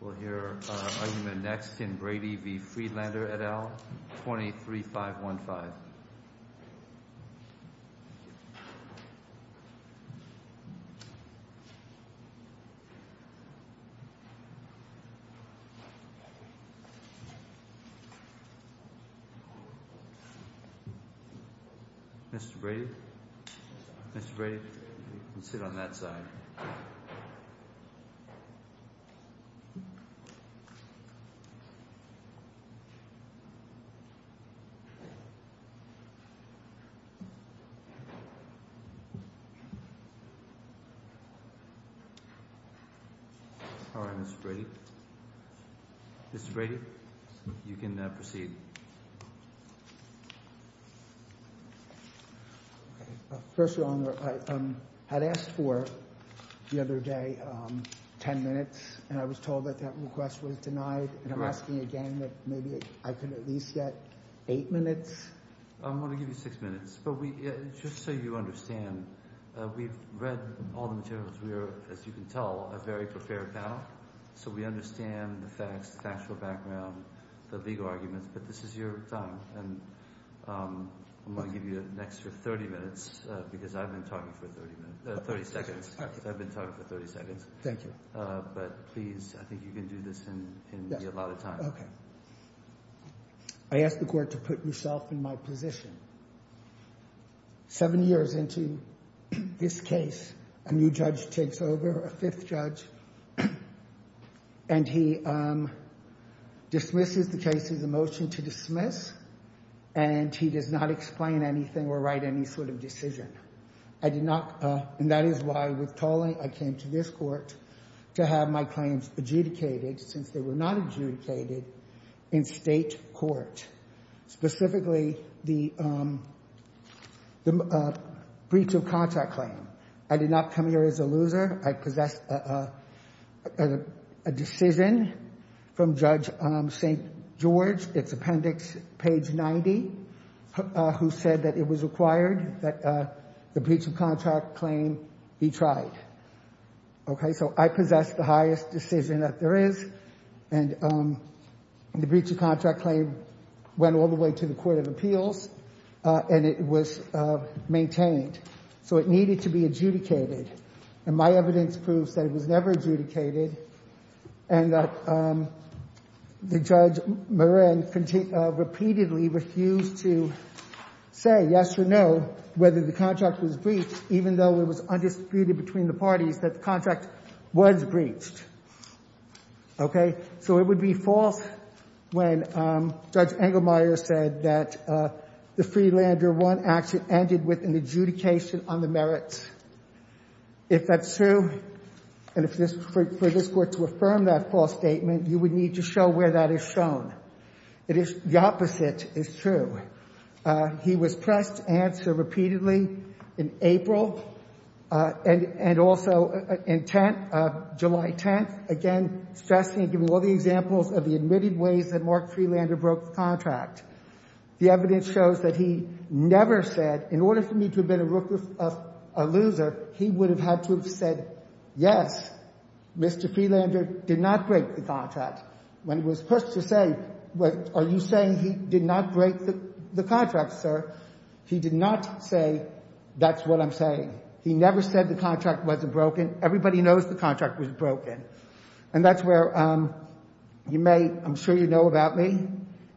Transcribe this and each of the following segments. We'll hear argument next in Brady v. Friedlander et al., 23-515. Mr. Brady? Mr. Brady? You can sit on that side. All right, Mr. Brady. Mr. Brady, you can proceed. First, Your Honor, I had asked for, the other day, ten minutes, and I was told that that request was denied. And I'm asking again that maybe I could at least get eight minutes. I'm going to give you six minutes, but just so you understand, we've read all the materials. We are, as you can tell, a very prepared panel, so we understand the facts, the factual background, the legal arguments, but this is your time, and I'm going to give you an extra 30 minutes, because I've been talking for 30 minutes, 30 seconds. I've been talking for 30 seconds. Thank you. But please, I think you can do this in a lot of time. Okay. I ask the Court to put yourself in my position. Seven years into this case, a new judge takes over, a fifth judge, and he dismisses the case with a motion to dismiss, and he does not explain anything or write any sort of decision. I did not, and that is why, with tolling, I came to this Court to have my claims adjudicated, since they were not adjudicated, in state court. Specifically, the breach of contract claim. I did not come here as a loser. I possessed a decision from Judge St. George, it's appendix page 90, who said that it was required that the breach of contract claim be tried. Okay, so I possess the highest decision that there is, and the breach of contract claim went all the way to the Court of Appeals, and it was maintained. So it needed to be adjudicated, and my evidence proves that it was never adjudicated, and that Judge Moran repeatedly refused to say yes or no, whether the contract was breached, even though it was undisputed between the parties that the contract was breached. Okay, so it would be false when Judge Engelmeyer said that the Freelander I action ended with an adjudication on the merits. If that's true, and for this Court to affirm that false statement, you would need to show where that is shown. The opposite is true. He was pressed to answer repeatedly in April and also in July 10th, again stressing and giving all the examples of the admitted ways that Mark Freelander broke the contract. The evidence shows that he never said, in order for me to have been a loser, he would have had to have said, yes, Mr. Freelander did not break the contract. When he was pushed to say, are you saying he did not break the contract, sir? He did not say, that's what I'm saying. He never said the contract wasn't broken. Everybody knows the contract was broken, and that's where you may, I'm sure you know about me.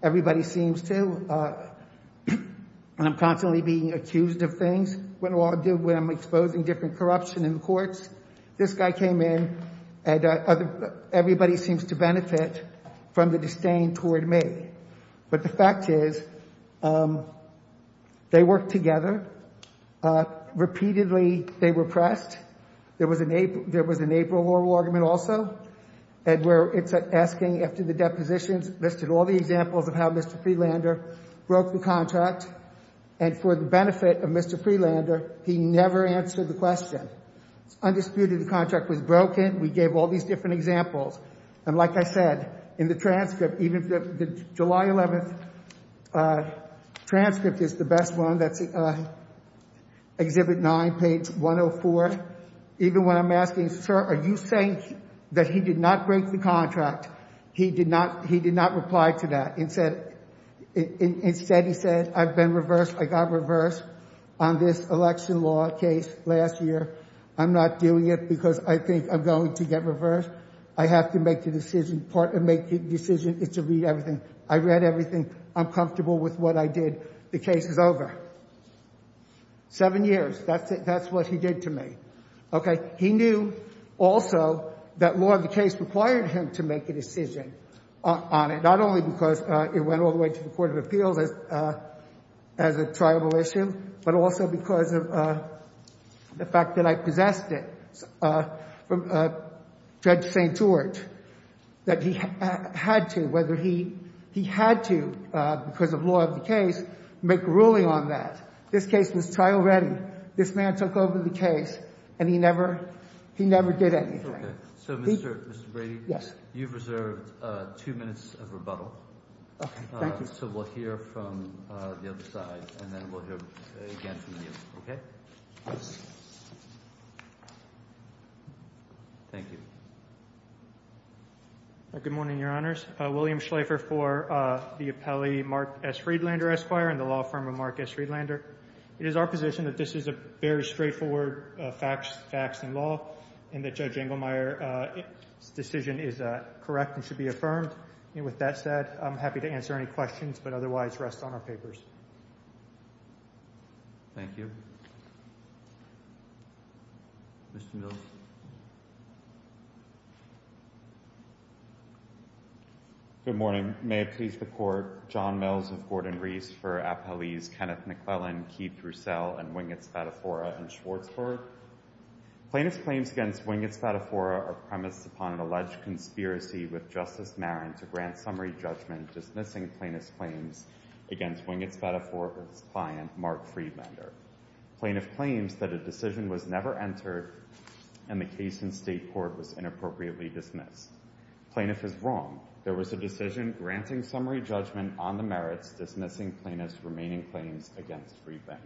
Everybody seems to, and I'm constantly being accused of things when I'm exposing different corruption in the courts. This guy came in, and everybody seems to benefit from the disdain toward me. But the fact is, they worked together. Repeatedly, they were pressed. There was an April war argument also, where it's asking after the depositions, listed all the examples of how Mr. Freelander broke the contract, and for the benefit of Mr. Freelander, he never answered the question. Undisputed, the contract was broken. We gave all these different examples. And like I said, in the transcript, even the July 11th transcript is the best one. That's Exhibit 9, page 104. Even when I'm asking, sir, are you saying that he did not break the contract, he did not reply to that. Instead, he said, I've been reversed. I got reversed on this election law case last year. I'm not doing it because I think I'm going to get reversed. I have to make the decision to read everything. I read everything. I'm comfortable with what I did. The case is over. Seven years. That's what he did to me. Okay. He knew also that law of the case required him to make a decision on it, not only because it went all the way to the Court of Appeals as a triable issue, but also because of the fact that I possessed it from Judge St. George, that he had to, whether he had to, because of law of the case, make a ruling on that. This case was trial ready. This man took over the case, and he never did anything. Okay. So, Mr. Brady? Yes. You've reserved two minutes of rebuttal. Okay. Thank you. So we'll hear from the other side, and then we'll hear again from you. Okay? Yes. Thank you. Good morning, Your Honors. William Schlafer for the appellee Mark S. Friedlander, Esquire, and the law firm of Mark S. Friedlander. It is our position that this is a very straightforward facts in law and that Judge Engelmeyer's decision is correct and should be affirmed. With that said, I'm happy to answer any questions, but otherwise rest on our papers. Thank you. Mr. Mills? Good morning. Your Honor, may I please report John Mills of Gordon-Reese for appellees Kenneth McClellan, Keith Roussel, and Wingett Spadafora in Schwartzburg? Plaintiff's claims against Wingett Spadafora are premised upon an alleged conspiracy with Justice Marin to grant summary judgment dismissing plaintiff's claims against Wingett Spadafora's client, Mark Friedlander. Plaintiff claims that a decision was never entered and the case in state court was inappropriately dismissed. Plaintiff is wrong. There was a decision granting summary judgment on the merits dismissing plaintiff's remaining claims against Friedlander.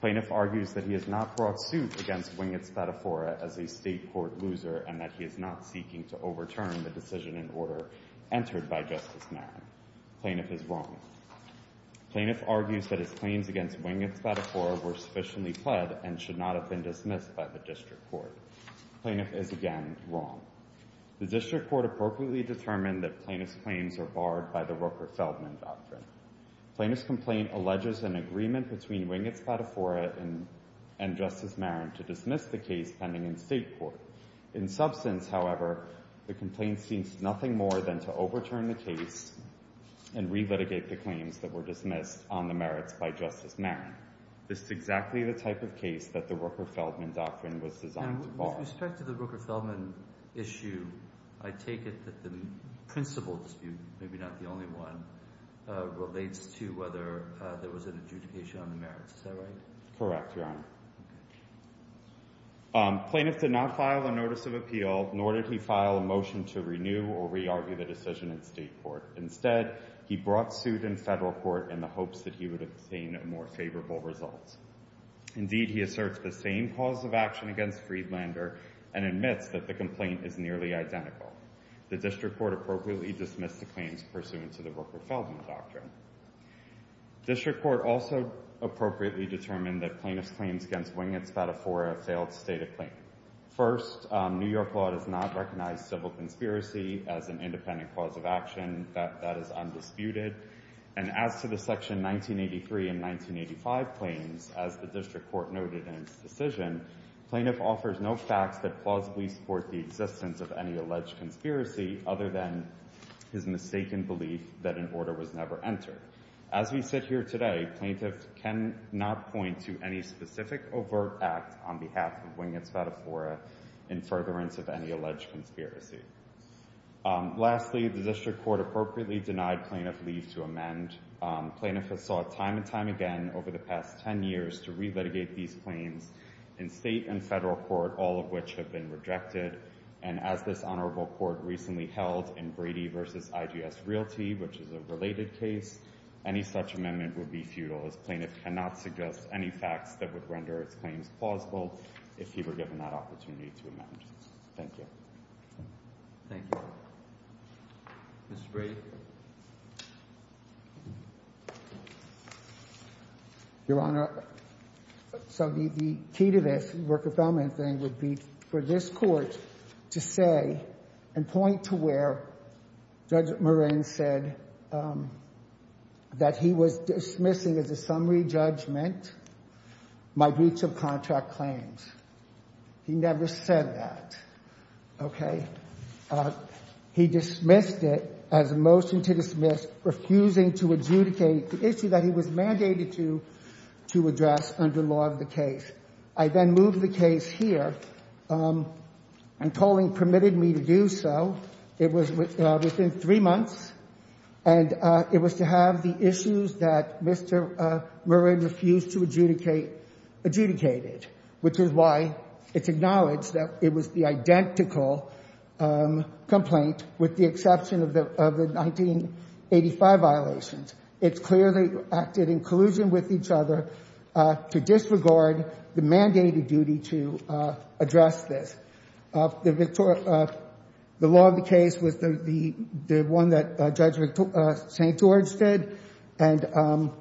Plaintiff argues that he has not brought suit against Wingett Spadafora as a state court loser and that he is not seeking to overturn the decision in order entered by Justice Marin. Plaintiff is wrong. Plaintiff argues that his claims against Wingett Spadafora were sufficiently pled and should not have been dismissed by the district court. Plaintiff is, again, wrong. The district court appropriately determined that plaintiff's claims are barred by the Rooker-Feldman Doctrine. Plaintiff's complaint alleges an agreement between Wingett Spadafora and Justice Marin to dismiss the case pending in state court. In substance, however, the complaint seems nothing more than to overturn the case and relitigate the claims that were dismissed on the merits by Justice Marin. This is exactly the type of case that the Rooker-Feldman Doctrine was designed to bar. With respect to the Rooker-Feldman issue, I take it that the principal dispute, maybe not the only one, relates to whether there was an adjudication on the merits. Is that right? Correct, Your Honor. Plaintiff did not file a notice of appeal, nor did he file a motion to renew or re-argue the decision in state court. Instead, he brought suit in federal court in the hopes that he would obtain more favorable results. Indeed, he asserts the same cause of action against Friedlander and admits that the complaint is nearly identical. The district court appropriately dismissed the claims pursuant to the Rooker-Feldman Doctrine. District court also appropriately determined that plaintiff's claims against Wingett Spadafora failed to state a claim. First, New York law does not recognize civil conspiracy as an independent cause of action. That is undisputed. And as to the Section 1983 and 1985 claims, as the district court noted in its decision, plaintiff offers no facts that plausibly support the existence of any alleged conspiracy other than his mistaken belief that an order was never entered. As we sit here today, plaintiff cannot point to any specific overt act on behalf of Wingett Spadafora in furtherance of any alleged conspiracy. Lastly, the district court appropriately denied plaintiff leave to amend. Plaintiff has sought time and time again over the past ten years to re-litigate these claims in state and federal court, all of which have been rejected. And as this honorable court recently held in Brady v. IGS Realty, which is a related case, any such amendment would be futile as plaintiff cannot suggest any facts that would render its claims plausible if he were given that opportunity to amend. Thank you. Thank you. Mr. Brady. Your Honor, so the key to this worker-felon thing would be for this court to say and point to where Judge Moran said that he was dismissing as a summary judgment my breach of contract claims. He never said that. Okay? He dismissed it as a motion to dismiss, refusing to adjudicate the issue that he was mandated to address under law of the case. I then moved the case here, and tolling permitted me to do so. It was within three months, and it was to have the issues that Mr. Moran refused to adjudicate adjudicated, which is why it's acknowledged that it was the identical complaint, with the exception of the 1985 violations. It clearly acted in collusion with each other to disregard the mandated duty to address this. The law of the case was the one that Judge St. George did, and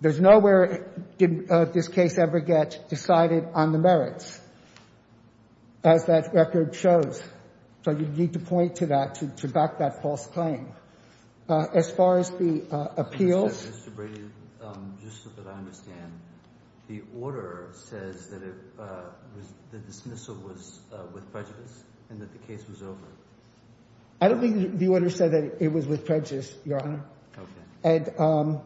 there's nowhere did this case ever get decided on the merits, as that record shows. So you need to point to that to back that false claim. As far as the appeals. Mr. Brady, just so that I understand, the order says that the dismissal was with prejudice and that the case was over. I don't think the order said that it was with prejudice, Your Honor. Okay.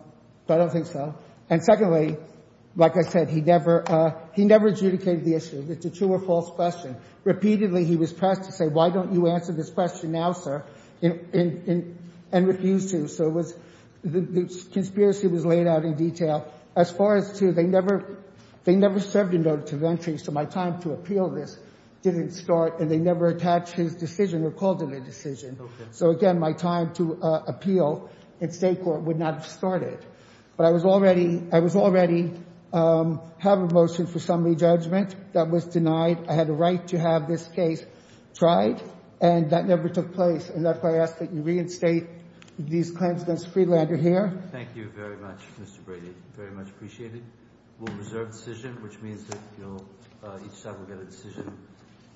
But I don't think so. And secondly, like I said, he never adjudicated the issue. It's a true or false question. Repeatedly he was pressed to say, why don't you answer this question now, sir, and refused to. So the conspiracy was laid out in detail. As far as, too, they never served a notice of entry, so my time to appeal this didn't start, and they never attached his decision or called it a decision. Okay. So, again, my time to appeal in State court would not have started. But I was already having a motion for summary judgment that was denied. I had a right to have this case tried, and that never took place, and that's why I ask that you reinstate these claims against Friedlander here. Thank you very much, Mr. Brady. Very much appreciated. We'll reserve the decision, which means that each side will get a decision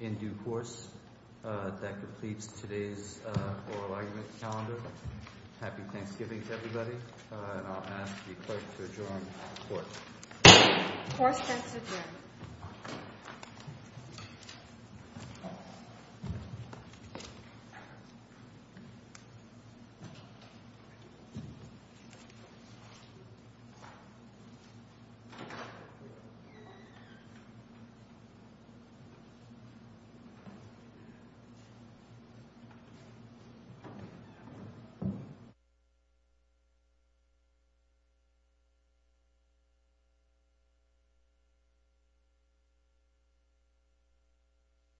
in due course that completes today's oral argument calendar. Happy Thanksgiving to everybody. And I'll ask the clerk to adjourn the court. The court stands adjourned. Thank you.